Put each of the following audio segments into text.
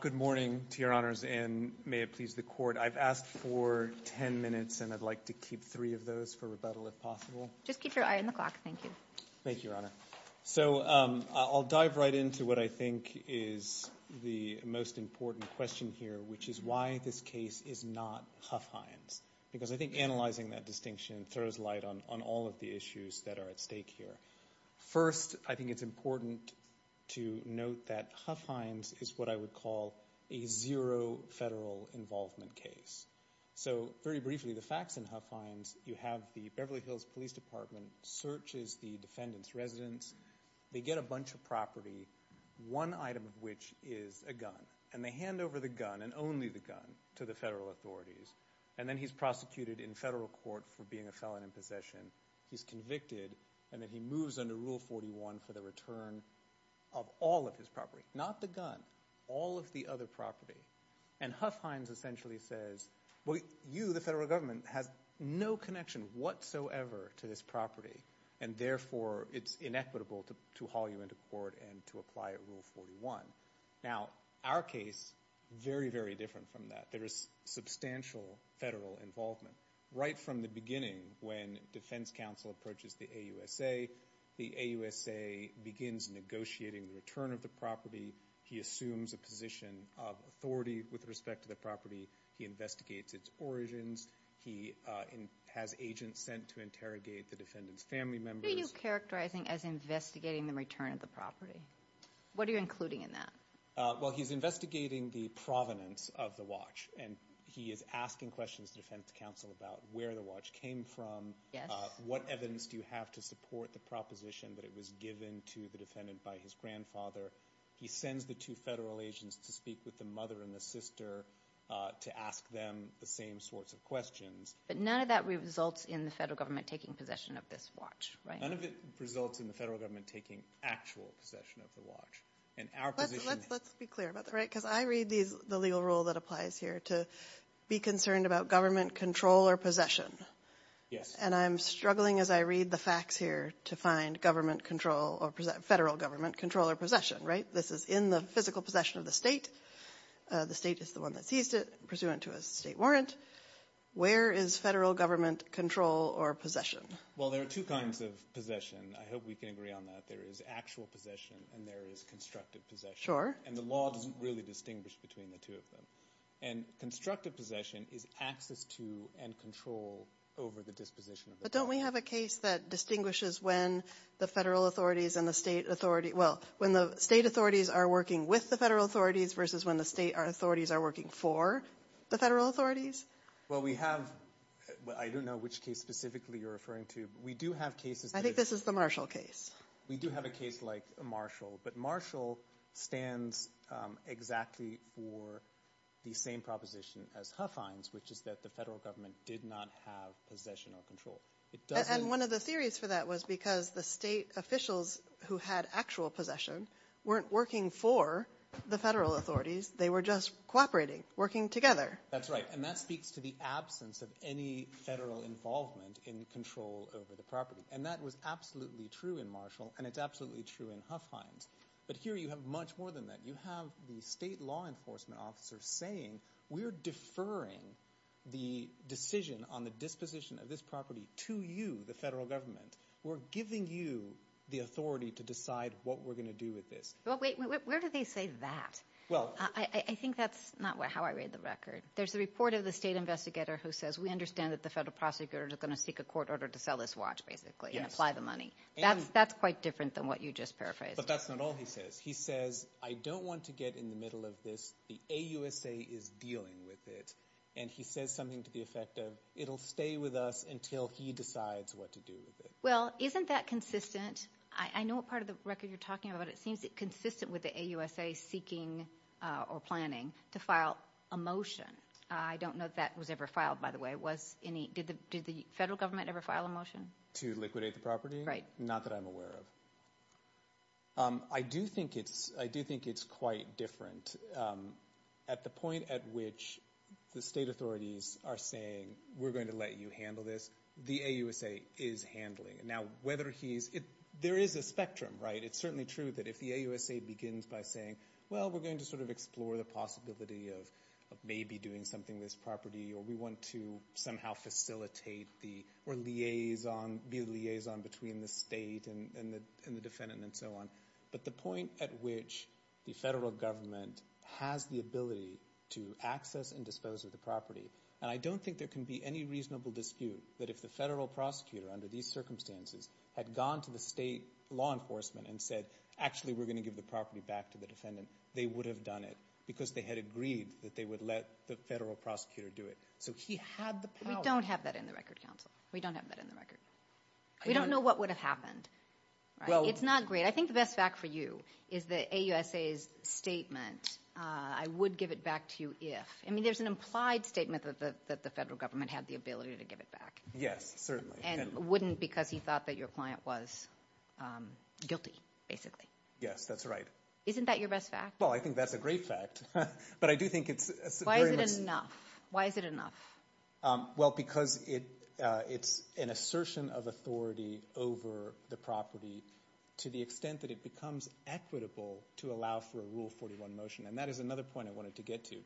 Good morning to your honors and may it please the court. I've asked for 10 minutes and I'd like to keep three of those for rebuttal if possible. Just keep your eye on the clock. Thank you. Thank you, your honor. So I'll dive right into what I think is the most important question here, which is why this case is not Huff Hines. Because I think analyzing that distinction throws light on all of the issues that are at stake here. First, I think it's important to note that Huff Hines is what I would call a zero federal involvement case. So very briefly, the facts in Huff Hines, you have the Beverly Hills Police Department searches the defendant's residence. They get a bunch of property, one item of which is a gun. And they hand over the gun, and only the gun, to the federal authorities. And then he's prosecuted in federal court for being a felon in possession. He's convicted, and then he moves under Rule 41 for the return of all of his property. Not the gun, all of the other property. And Huff Hines essentially says, well, you, the federal government, has no connection whatsoever to this property. And therefore, it's inequitable to haul you into court and to apply Rule 41. Now, our case, very, very different from that. There is substantial federal involvement. Right from the beginning, when defense counsel approaches the AUSA, the AUSA begins negotiating the return of the property. He assumes a position of authority with respect to the property. He investigates its origins. He has agents sent to interrogate the defendant's family members. What are you characterizing as investigating the return of the property? What are you including in that? Well, he's investigating the provenance of the watch. And he is asking questions to defense counsel about where the watch came from, what evidence do you have to support the proposition that it was given to the defendant by his grandfather. He sends the two federal agents to speak with the mother and the sister to ask them the same sorts of questions. But none of that results in the federal government taking possession of this watch, right? None of it results in the federal government taking actual possession of the watch. And Let's be clear about that, right? Because I read the legal rule that applies here to be concerned about government control or possession. And I'm struggling as I read the facts here to find federal government control or possession, right? This is in the physical possession of the state. The state is the one that seized it, pursuant to a state warrant. Where is federal government control or possession? Well, there are two kinds of possession. I hope we can agree on that. There is actual Sure. And the law doesn't really distinguish between the two of them. And constructive possession is access to and control over the disposition of the watch. But don't we have a case that distinguishes when the federal authorities and the state authorities, well, when the state authorities are working with the federal authorities versus when the state authorities are working for the federal authorities? Well we have, I don't know which case specifically you're referring to, but we do have cases I think this is the Marshall case. We do have a case like Marshall. But Marshall stands exactly for the same proposition as Huffines, which is that the federal government did not have possession or control. And one of the theories for that was because the state officials who had actual possession weren't working for the federal authorities. They were just cooperating, working together. That's right. And that speaks to the absence of any federal involvement in control over the property. And that was absolutely true in Marshall, and it's absolutely true in Huffines. But here you have much more than that. You have the state law enforcement officers saying we're deferring the decision on the disposition of this property to you, the federal government. We're giving you the authority to decide what we're going to do with this. But wait, where do they say that? I think that's not how I read the record. There's a report of the state investigator who says we understand that the federal prosecutors are going to seek a court order to sell this watch basically and apply the money. That's quite different than what you just paraphrased. But that's not all he says. He says I don't want to get in the middle of this. The AUSA is dealing with it. And he says something to the effect of it'll stay with us until he decides what to do with it. Well, isn't that consistent? I know what part of the record you're talking about. It seems it's consistent with the AUSA seeking or planning to file a motion. I don't know if that was ever filed, by the way. Did the federal government ever file a motion? To liquidate the property? Right. Not that I'm aware of. I do think it's quite different. At the point at which the state authorities are saying we're going to let you handle this, the AUSA is handling it. Now, whether he's – there is a spectrum, right? It's certainly true that if the AUSA begins by saying, well, we're going to sort of explore the possibility of maybe doing something with this property or we want to somehow facilitate the – or liaison – be a liaison between the state and the defendant and so on. But the point at which the federal government has the ability to access and dispose of the property – and I don't think there can be any reasonable dispute that if the federal prosecutor under these circumstances had gone to the state law enforcement and said, actually, we're going to give the property back to the defendant, they would have done it because they had agreed that they would let the federal prosecutor do it. So he had the power. We don't have that in the record, counsel. We don't have that in the record. We don't know what would have happened. It's not great. I think the best fact for you is that AUSA's statement, I would give it back to you if – I mean, there's an implied statement that the federal government had the ability to give it back. Yes, certainly. And wouldn't because he thought that your client was guilty, basically. Yes, that's right. Isn't that your best fact? Well, I think that's a great fact. But I do think it's very much – Why is it enough? Why is it enough? Well, because it's an assertion of authority over the property to the extent that it becomes equitable to allow for a Rule 41 motion. And that is another point I wanted to get to.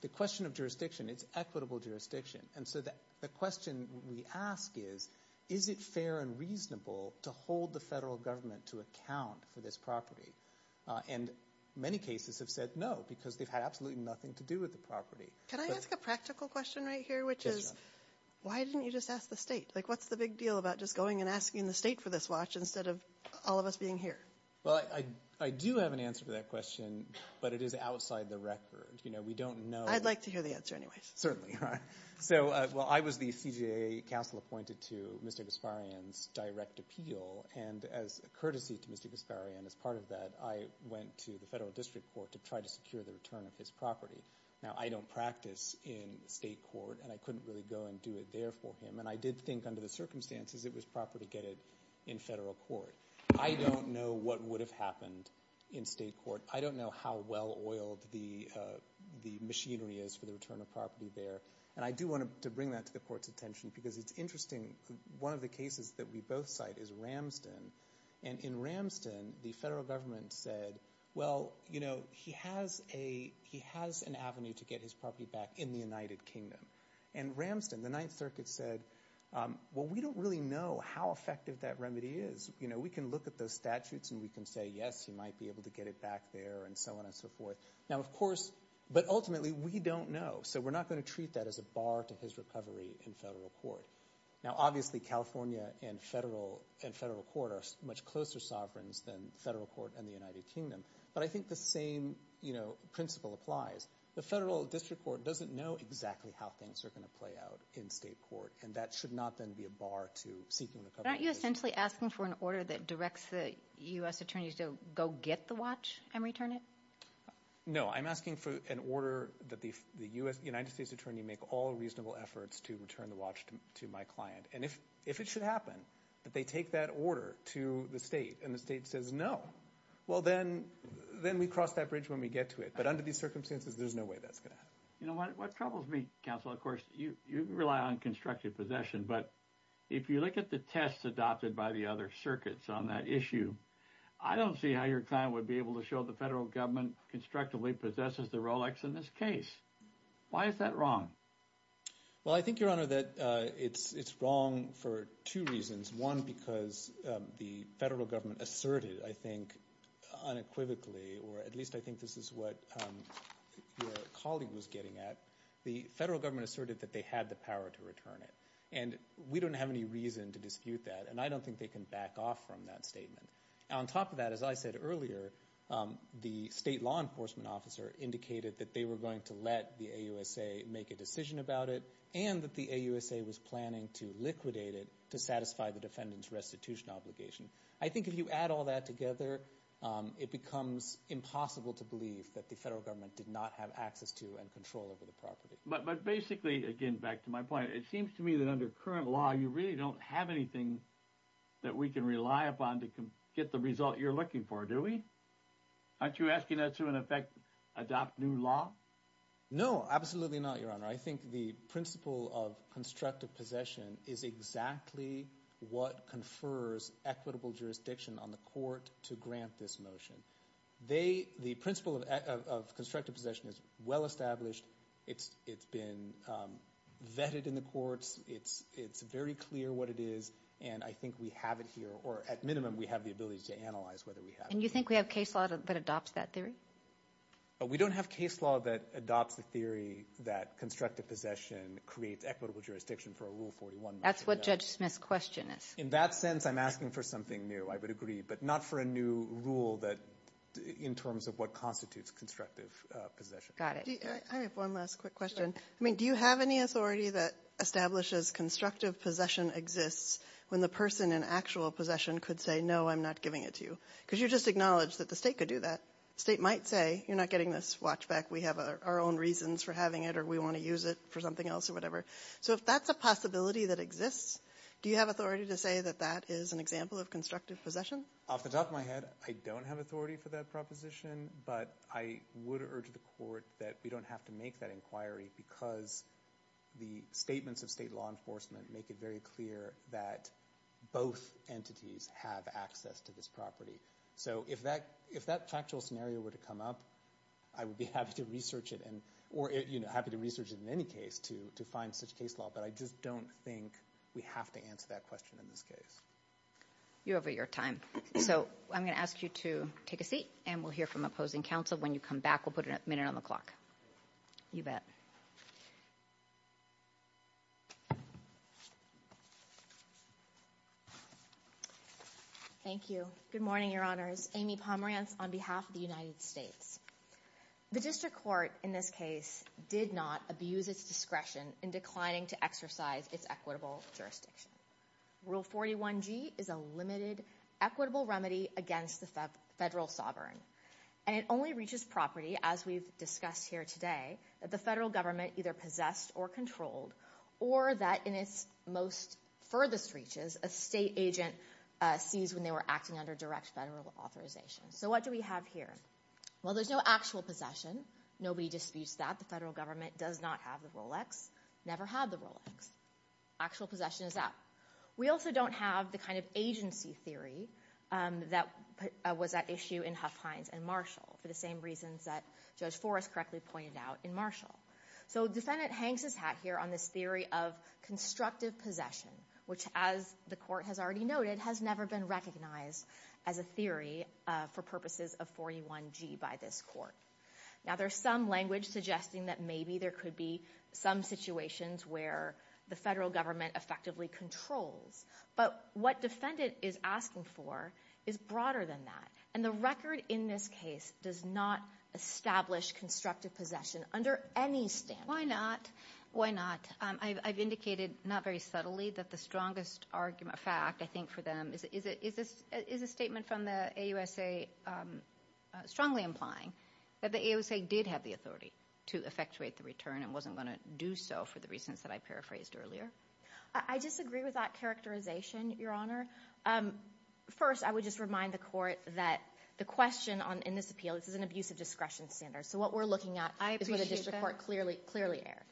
The question of jurisdiction, it's equitable jurisdiction. And so the question we ask is, is it fair and reasonable to hold the federal government to account for this property? And many cases have said no because they've had absolutely nothing to do with the property. Can I ask a practical question right here, which is why didn't you just ask the state? Like, what's the big deal about just going and asking the state for this watch instead of all of us being here? Well, I do have an answer to that question, but it is outside the record. We don't know – I'd like to hear the answer anyways. Certainly. So, well, I was the CJA counsel appointed to Mr. Gasparian's direct appeal. And as a courtesy to Mr. Gasparian, as part of that, I went to the federal district court to try to secure the return of his property. Now, I don't practice in state court, and I couldn't really go and do it there for him. And I did think under the circumstances it was proper to get it in federal court. I don't know what would have happened in state court. I don't know how well oiled the machinery is for the return of property there. And I do want to bring that to the court's attention because it's interesting. One of the cases that we both cite is Ramston. And in Ramston, the federal government said, well, he has an avenue to get his property back in the United Kingdom. And Ramston, the Ninth Circuit, said, well, we don't really know how effective that remedy is. We can look at those statutes and we can say, yes, he might be able to get it back there and so on and so forth. But ultimately, we don't know. So we're not going to treat that as a bar to his recovery in federal court. Now, obviously, California and federal court are much closer sovereigns than federal court and the United Kingdom. But I think the same principle applies. The federal district court doesn't know exactly how things are going to play out in state court. And that should not then be a bar to seeking recovery. But aren't you essentially asking for an order that directs the U.S. attorneys to go get the watch and return it? No. I'm asking for an order that the United States attorney make all reasonable efforts to return the watch to my client. And if it should happen that they take that order to the state and the state says no, well, then we cross that bridge when we get to it. But under these circumstances, there's no way that's going to happen. You know what troubles me, counsel? Of course, you rely on constructive possession. But if you look at the tests adopted by the other circuits on that issue, I don't see how your client would be able to show the federal government constructively possesses the Rolex in this case. Why is that wrong? Well, I think, Your Honor, that it's wrong for two reasons. One, because the federal government asserted, I think, unequivocally, or at least I think this is what your colleague was getting at, the federal government asserted that they had the power to return it. And we don't have any reason to dispute that, and I don't think they can back off from that statement. On top of that, as I said earlier, the state law enforcement officer indicated that they were going to let the AUSA make a decision about it and that the AUSA was planning to liquidate it to satisfy the defendant's restitution obligation. I think if you add all that together, it becomes impossible to believe that the federal government did not have access to and control over the property. But basically, again, back to my point, it seems to me that under current law you really don't have anything that we can rely upon to get the result you're looking for, do we? Aren't you asking that to, in effect, adopt new law? No, absolutely not, Your Honor. I think the principle of constructive possession is exactly what confers equitable jurisdiction on the court to grant this motion. The principle of constructive possession is well established. It's been vetted in the courts. It's very clear what it is, and I think we have it here, or at minimum we have the ability to analyze whether we have it. And you think we have case law that adopts that theory? We don't have case law that adopts the theory that constructive possession creates equitable jurisdiction for a Rule 41 motion. That's what Judge Smith's question is. In that sense, I'm asking for something new, I would agree, but not for a new rule in terms of what constitutes constructive possession. Got it. I have one last quick question. Do you have any authority that establishes constructive possession exists when the person in actual possession could say, no, I'm not giving it to you? Because you just acknowledged that the state could do that. The state might say, you're not getting this watch back, we have our own reasons for having it or we want to use it for something else or whatever. So if that's a possibility that exists, do you have authority to say that that is an example of constructive possession? Off the top of my head, I don't have authority for that proposition, but I would urge the Court that we don't have to make that inquiry because the statements of state law enforcement make it very clear that both entities have access to this property. So if that factual scenario were to come up, I would be happy to research it, or happy to research it in any case to find such case law, but I just don't think we have to answer that question in this case. You're over your time. So I'm going to ask you to take a seat and we'll hear from opposing counsel. When you come back, we'll put a minute on the clock. You bet. Thank you. Good morning, Your Honors. Amy Pomerantz on behalf of the United States. The district court in this case did not abuse its discretion in declining to exercise its equitable jurisdiction. Rule 41G is a limited equitable remedy against the federal sovereign, and it only reaches property, as we've discussed here today, that the federal government either possessed or controlled, or that in its most furthest reaches a state agent seized when they were acting under direct federal authorization. So what do we have here? Well, there's no actual possession. Nobody disputes that. The federal government does not have the Rolex, never had the Rolex. Actual possession is up. We also don't have the kind of agency theory that was at issue in Huff Hines and Marshall for the same reasons that Judge Forrest correctly pointed out in Marshall. So defendant hangs his hat here on this theory of constructive possession, which, as the court has already noted, has never been recognized as a theory for purposes of 41G by this court. Now, there's some language suggesting that maybe there could be some situations where the federal government effectively controls, but what defendant is asking for is broader than that, and the record in this case does not establish constructive possession under any standard. Why not? Why not? I've indicated not very subtly that the strongest argument, fact, I think for them, is a statement from the AUSA strongly implying that the AUSA did have the authority to effectuate the return and wasn't going to do so for the reasons that I paraphrased earlier. I disagree with that characterization, Your Honor. First, I would just remind the court that the question in this appeal, this is an abuse of discretion standard, so what we're looking at is what the district court clearly aired.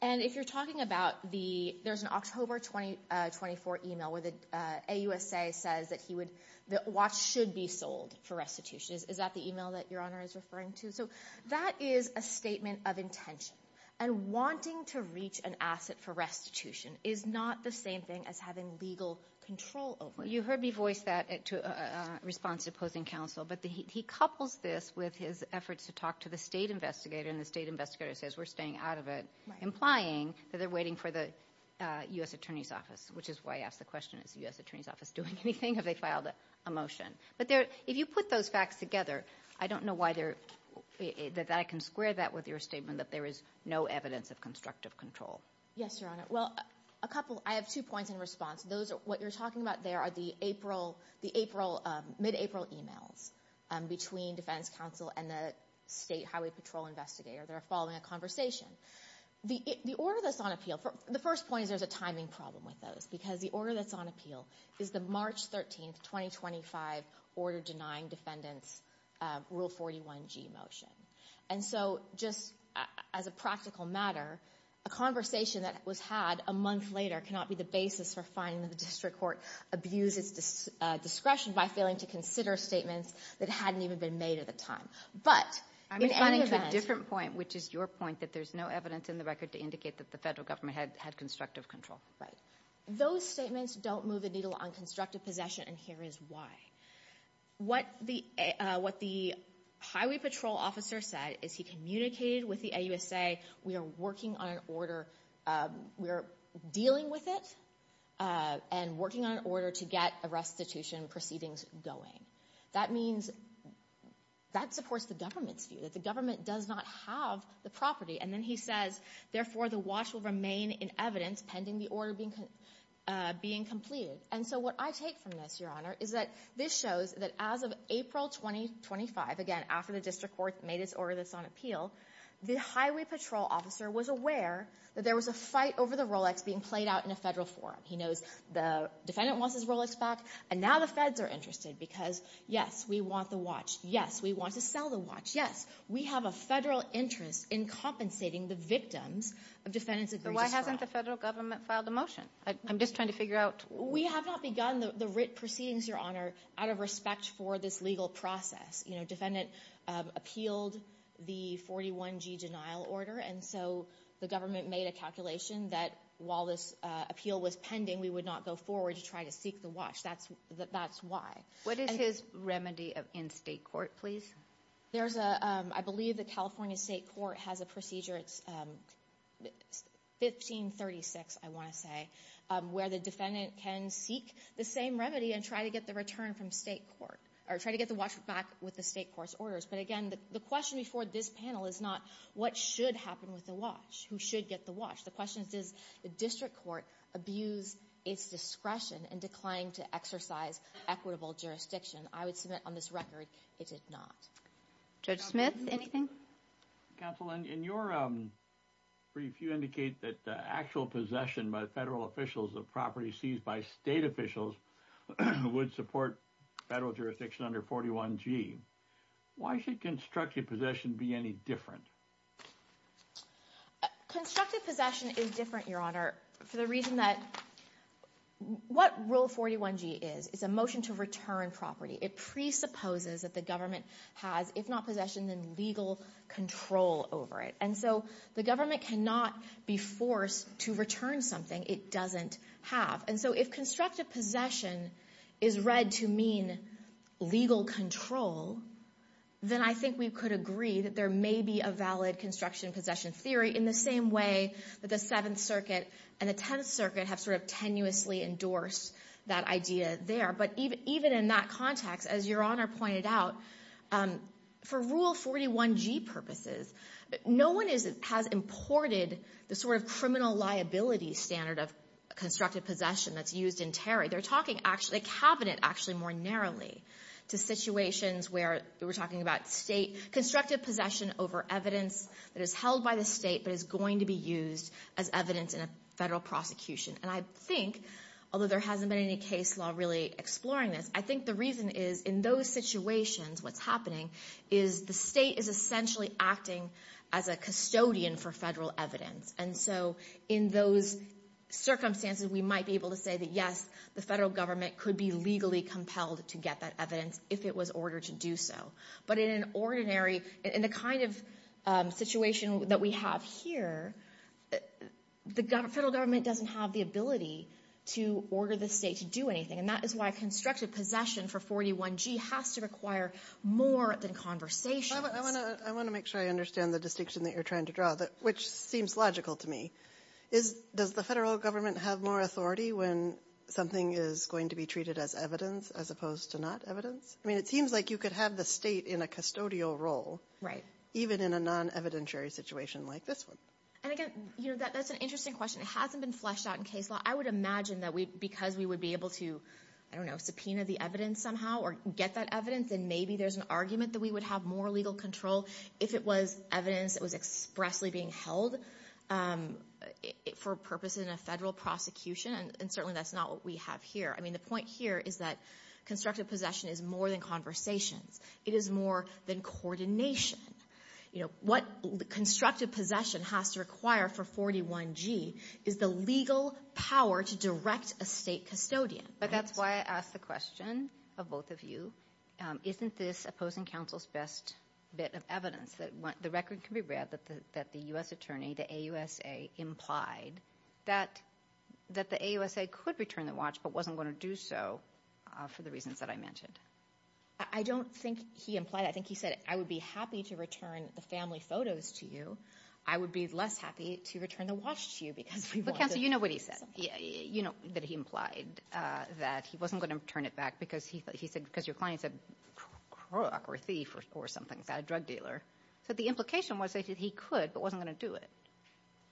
And if you're talking about the – there's an October 2024 email where the AUSA says that he would – that watch should be sold for restitution. Is that the email that Your Honor is referring to? So that is a statement of intention, and wanting to reach an asset for restitution is not the same thing as having legal control over it. You heard me voice that in response to opposing counsel, but he couples this with his efforts to talk to the state investigator, and the state investigator says, we're staying out of it, implying that they're waiting for the U.S. Attorney's Office, which is why I asked the question, is the U.S. Attorney's Office doing anything? Have they filed a motion? But if you put those facts together, I don't know why they're – that I can square that with your statement that there is no evidence of constructive control. Yes, Your Honor. Well, a couple – I have two points in response. Those – what you're talking about there are the April – the April – or they're following a conversation. The order that's on appeal – the first point is there's a timing problem with those, because the order that's on appeal is the March 13, 2025, order denying defendants Rule 41G motion. And so just as a practical matter, a conversation that was had a month later cannot be the basis for finding that the district court abused its discretion by failing to consider statements that hadn't even been made at the time. But in any event – I'm responding to a different point, which is your point that there's no evidence in the record to indicate that the federal government had constructive control. Right. Those statements don't move the needle on constructive possession, and here is why. What the Highway Patrol officer said is he communicated with the AUSA, we are working on an order – we are dealing with it and working on an order to get a restitution proceedings going. That means – that supports the government's view, that the government does not have the property. And then he says, therefore, the watch will remain in evidence pending the order being completed. And so what I take from this, Your Honor, is that this shows that as of April 2025, again, after the district court made its order that's on appeal, the Highway Patrol officer was aware that there was a fight over the Rolex being played out in a federal forum. He knows the defendant wants his Rolex back, and now the feds are interested because, yes, we want the watch. Yes, we want to sell the watch. Yes, we have a federal interest in compensating the victims of defendants' agreed-to-strike. So why hasn't the federal government filed a motion? I'm just trying to figure out – We have not begun the writ proceedings, Your Honor, out of respect for this legal process. You know, defendant appealed the 41G denial order, and so the government made a calculation that while this appeal was pending, we would not go forward to try to seek the watch. That's why. What is his remedy in state court, please? There's a – I believe the California State Court has a procedure. It's 1536, I want to say, where the defendant can seek the same remedy and try to get the return from state court or try to get the watch back with the state court's orders. But, again, the question before this panel is not what should happen with the watch, who should get the watch. The question is, does the district court abuse its discretion and decline to exercise equitable jurisdiction? I would submit on this record it did not. Judge Smith, anything? Counsel, in your brief, you indicate that the actual possession by federal officials of property seized by state officials would support federal jurisdiction under 41G. Why should constructive possession be any different? Constructive possession is different, Your Honor, for the reason that what Rule 41G is, it's a motion to return property. It presupposes that the government has, if not possession, then legal control over it. And so the government cannot be forced to return something it doesn't have. And so if constructive possession is read to mean legal control, then I think we could agree that there may be a valid construction possession theory in the same way that the Seventh Circuit and the Tenth Circuit have sort of tenuously endorsed that idea there. But even in that context, as Your Honor pointed out, for Rule 41G purposes, no one has imported the sort of criminal liability standard of constructive possession that's used in Terry. They're talking actually, the cabinet actually more narrowly to situations where we're talking about state constructive possession over evidence that is held by the state but is going to be used as evidence in a federal prosecution. And I think, although there hasn't been any case law really exploring this, I think the reason is in those situations what's happening is the state is essentially acting as a custodian for federal evidence. And so in those circumstances, we might be able to say that, yes, the federal government could be legally compelled to get that evidence if it was ordered to do so. But in an ordinary, in the kind of situation that we have here, the federal government doesn't have the ability to order the state to do anything. And that is why constructive possession for 41G has to require more than conversation. I want to make sure I understand the distinction that you're trying to draw, which seems logical to me. Does the federal government have more authority when something is going to be treated as evidence as opposed to not evidence? I mean, it seems like you could have the state in a custodial role, even in a non-evidentiary situation like this one. And again, that's an interesting question. It hasn't been fleshed out in case law. I would imagine that because we would be able to, I don't know, subpoena the evidence somehow or get that evidence, then maybe there's an argument that we would have more legal control if it was evidence that was expressly being held for purposes in a federal prosecution. And certainly that's not what we have here. I mean, the point here is that constructive possession is more than conversations. It is more than coordination. What constructive possession has to require for 41G is the legal power to direct a state custodian. But that's why I asked the question of both of you. Isn't this opposing counsel's best bit of evidence that the record can be read that the U.S. attorney, the AUSA, implied that the AUSA could return the watch but wasn't going to do so for the reasons that I mentioned? I don't think he implied that. I think he said, I would be happy to return the family photos to you. I would be less happy to return the watch to you because we want to— That's not what he said, that he implied that he wasn't going to return it back because your client's a crook or a thief or something, a drug dealer. So the implication was that he could but wasn't going to do it.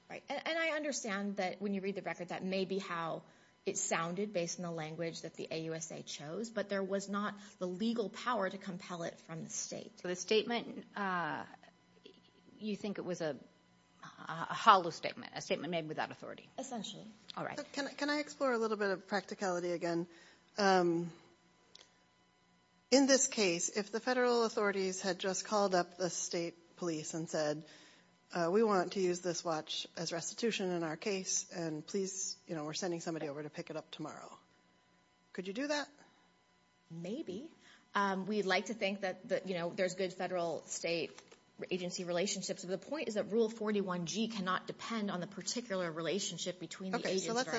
Right, and I understand that when you read the record, that may be how it sounded based on the language that the AUSA chose, but there was not the legal power to compel it from the state. So the statement, you think it was a hollow statement, a statement made without authority? Essentially. All right. Can I explore a little bit of practicality again? In this case, if the federal authorities had just called up the state police and said, we want to use this watch as restitution in our case, and please, we're sending somebody over to pick it up tomorrow, could you do that? Maybe. We'd like to think that there's good federal-state agency relationships, but the point is that Rule 41G cannot depend on the particular relationship between the agents that are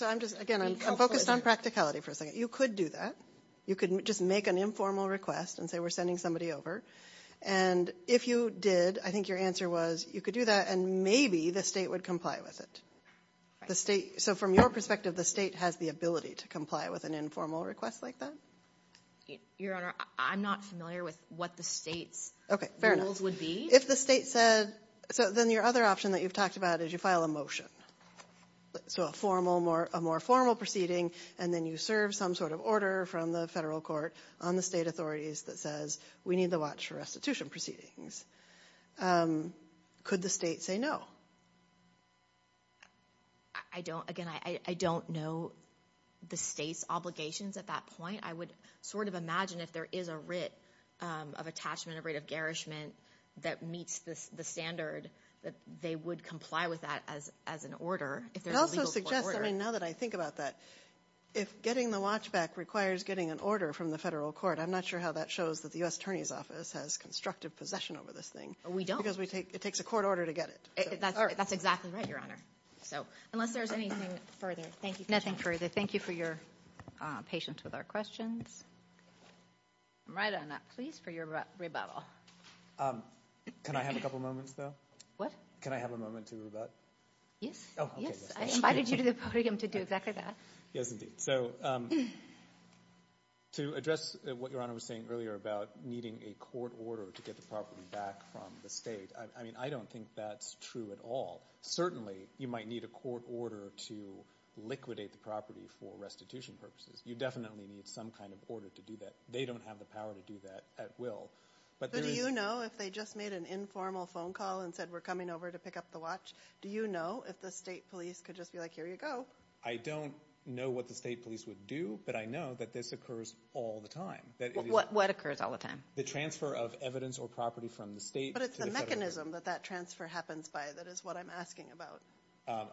involved. Again, I'm focused on practicality for a second. You could do that. You could just make an informal request and say we're sending somebody over, and if you did, I think your answer was you could do that and maybe the state would comply with it. So from your perspective, the state has the ability to comply with an informal request like that? Your Honor, I'm not familiar with what the state's rules would be. If the state said so, then your other option that you've talked about is you file a motion, so a more formal proceeding, and then you serve some sort of order from the federal court on the state authorities that says we need the watch for restitution proceedings. Could the state say no? Again, I don't know the state's obligations at that point. I would sort of imagine if there is a writ of attachment, a writ of garishment that meets the standard, that they would comply with that as an order if there's a legal court order. It also suggests, I mean, now that I think about that, if getting the watch back requires getting an order from the federal court, I'm not sure how that shows that the U.S. Attorney's Office has constructive possession over this thing. We don't. Because it takes a court order to get it. That's exactly right, Your Honor. Unless there's anything further, thank you. Nothing further. Thank you for your patience with our questions. I'm right on that. Please, for your rebuttal. Can I have a couple moments, though? What? Can I have a moment to rebut? Yes. Yes. I invited you to the podium to do exactly that. Yes, indeed. So to address what Your Honor was saying earlier about needing a court order to get the property back from the state, I mean, I don't think that's true at all. Certainly you might need a court order to liquidate the property for restitution purposes. You definitely need some kind of order to do that. They don't have the power to do that at will. But do you know if they just made an informal phone call and said we're coming over to pick up the watch, do you know if the state police could just be like, here you go? I don't know what the state police would do, but I know that this occurs all the time. What occurs all the time? The transfer of evidence or property from the state to the federal government. Is there a mechanism that that transfer happens by that is what I'm asking about?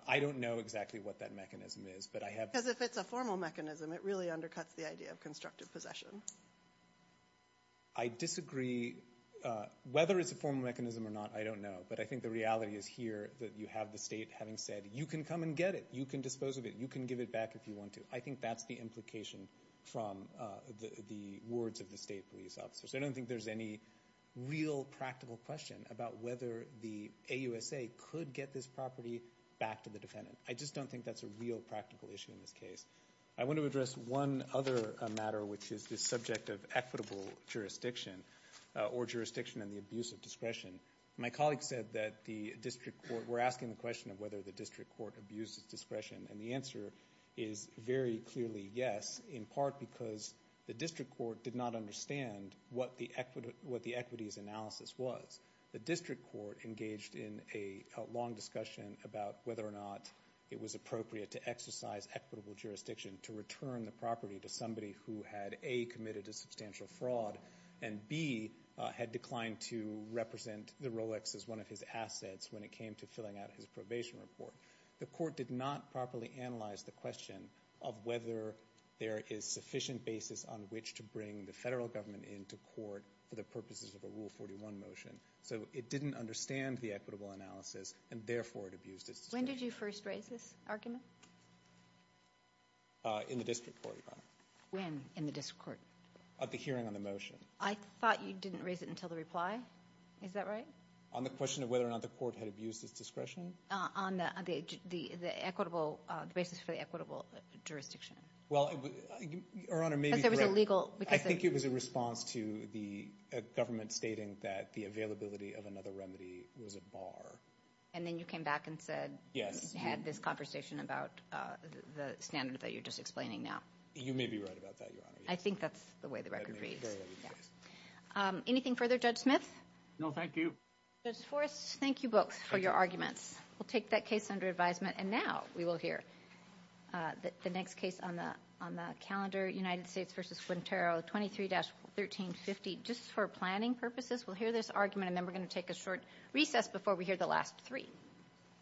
I don't know exactly what that mechanism is. Because if it's a formal mechanism, it really undercuts the idea of constructive possession. I disagree. Whether it's a formal mechanism or not, I don't know. But I think the reality is here that you have the state having said you can come and get it. You can dispose of it. You can give it back if you want to. I think that's the implication from the words of the state police officers. I don't think there's any real practical question about whether the AUSA could get this property back to the defendant. I just don't think that's a real practical issue in this case. I want to address one other matter, which is the subject of equitable jurisdiction or jurisdiction and the abuse of discretion. My colleague said that the district court, we're asking the question of whether the district court abused its discretion. And the answer is very clearly yes, in part because the district court did not understand what the equities analysis was. The district court engaged in a long discussion about whether or not it was appropriate to exercise equitable jurisdiction to return the property to somebody who had, A, committed a substantial fraud, and, B, had declined to represent the Rolex as one of his assets when it came to filling out his probation report. The court did not properly analyze the question of whether there is sufficient basis on which to bring the federal government into court for the purposes of a Rule 41 motion. So it didn't understand the equitable analysis, and therefore it abused its discretion. When did you first raise this argument? In the district court, Your Honor. When in the district court? At the hearing on the motion. I thought you didn't raise it until the reply. Is that right? On the question of whether or not the court had abused its discretion? On the basis for the equitable jurisdiction. I think it was a response to the government stating that the availability of another remedy was a bar. And then you came back and said, had this conversation about the standard that you're just explaining now. You may be right about that, Your Honor. I think that's the way the record reads. Anything further, Judge Smith? No, thank you. Judge Forrest, thank you both for your arguments. We'll take that case under advisement. And now we will hear the next case on the calendar, United States v. Guantero, 23-1350, just for planning purposes. We'll hear this argument, and then we're going to take a short recess before we hear the last three.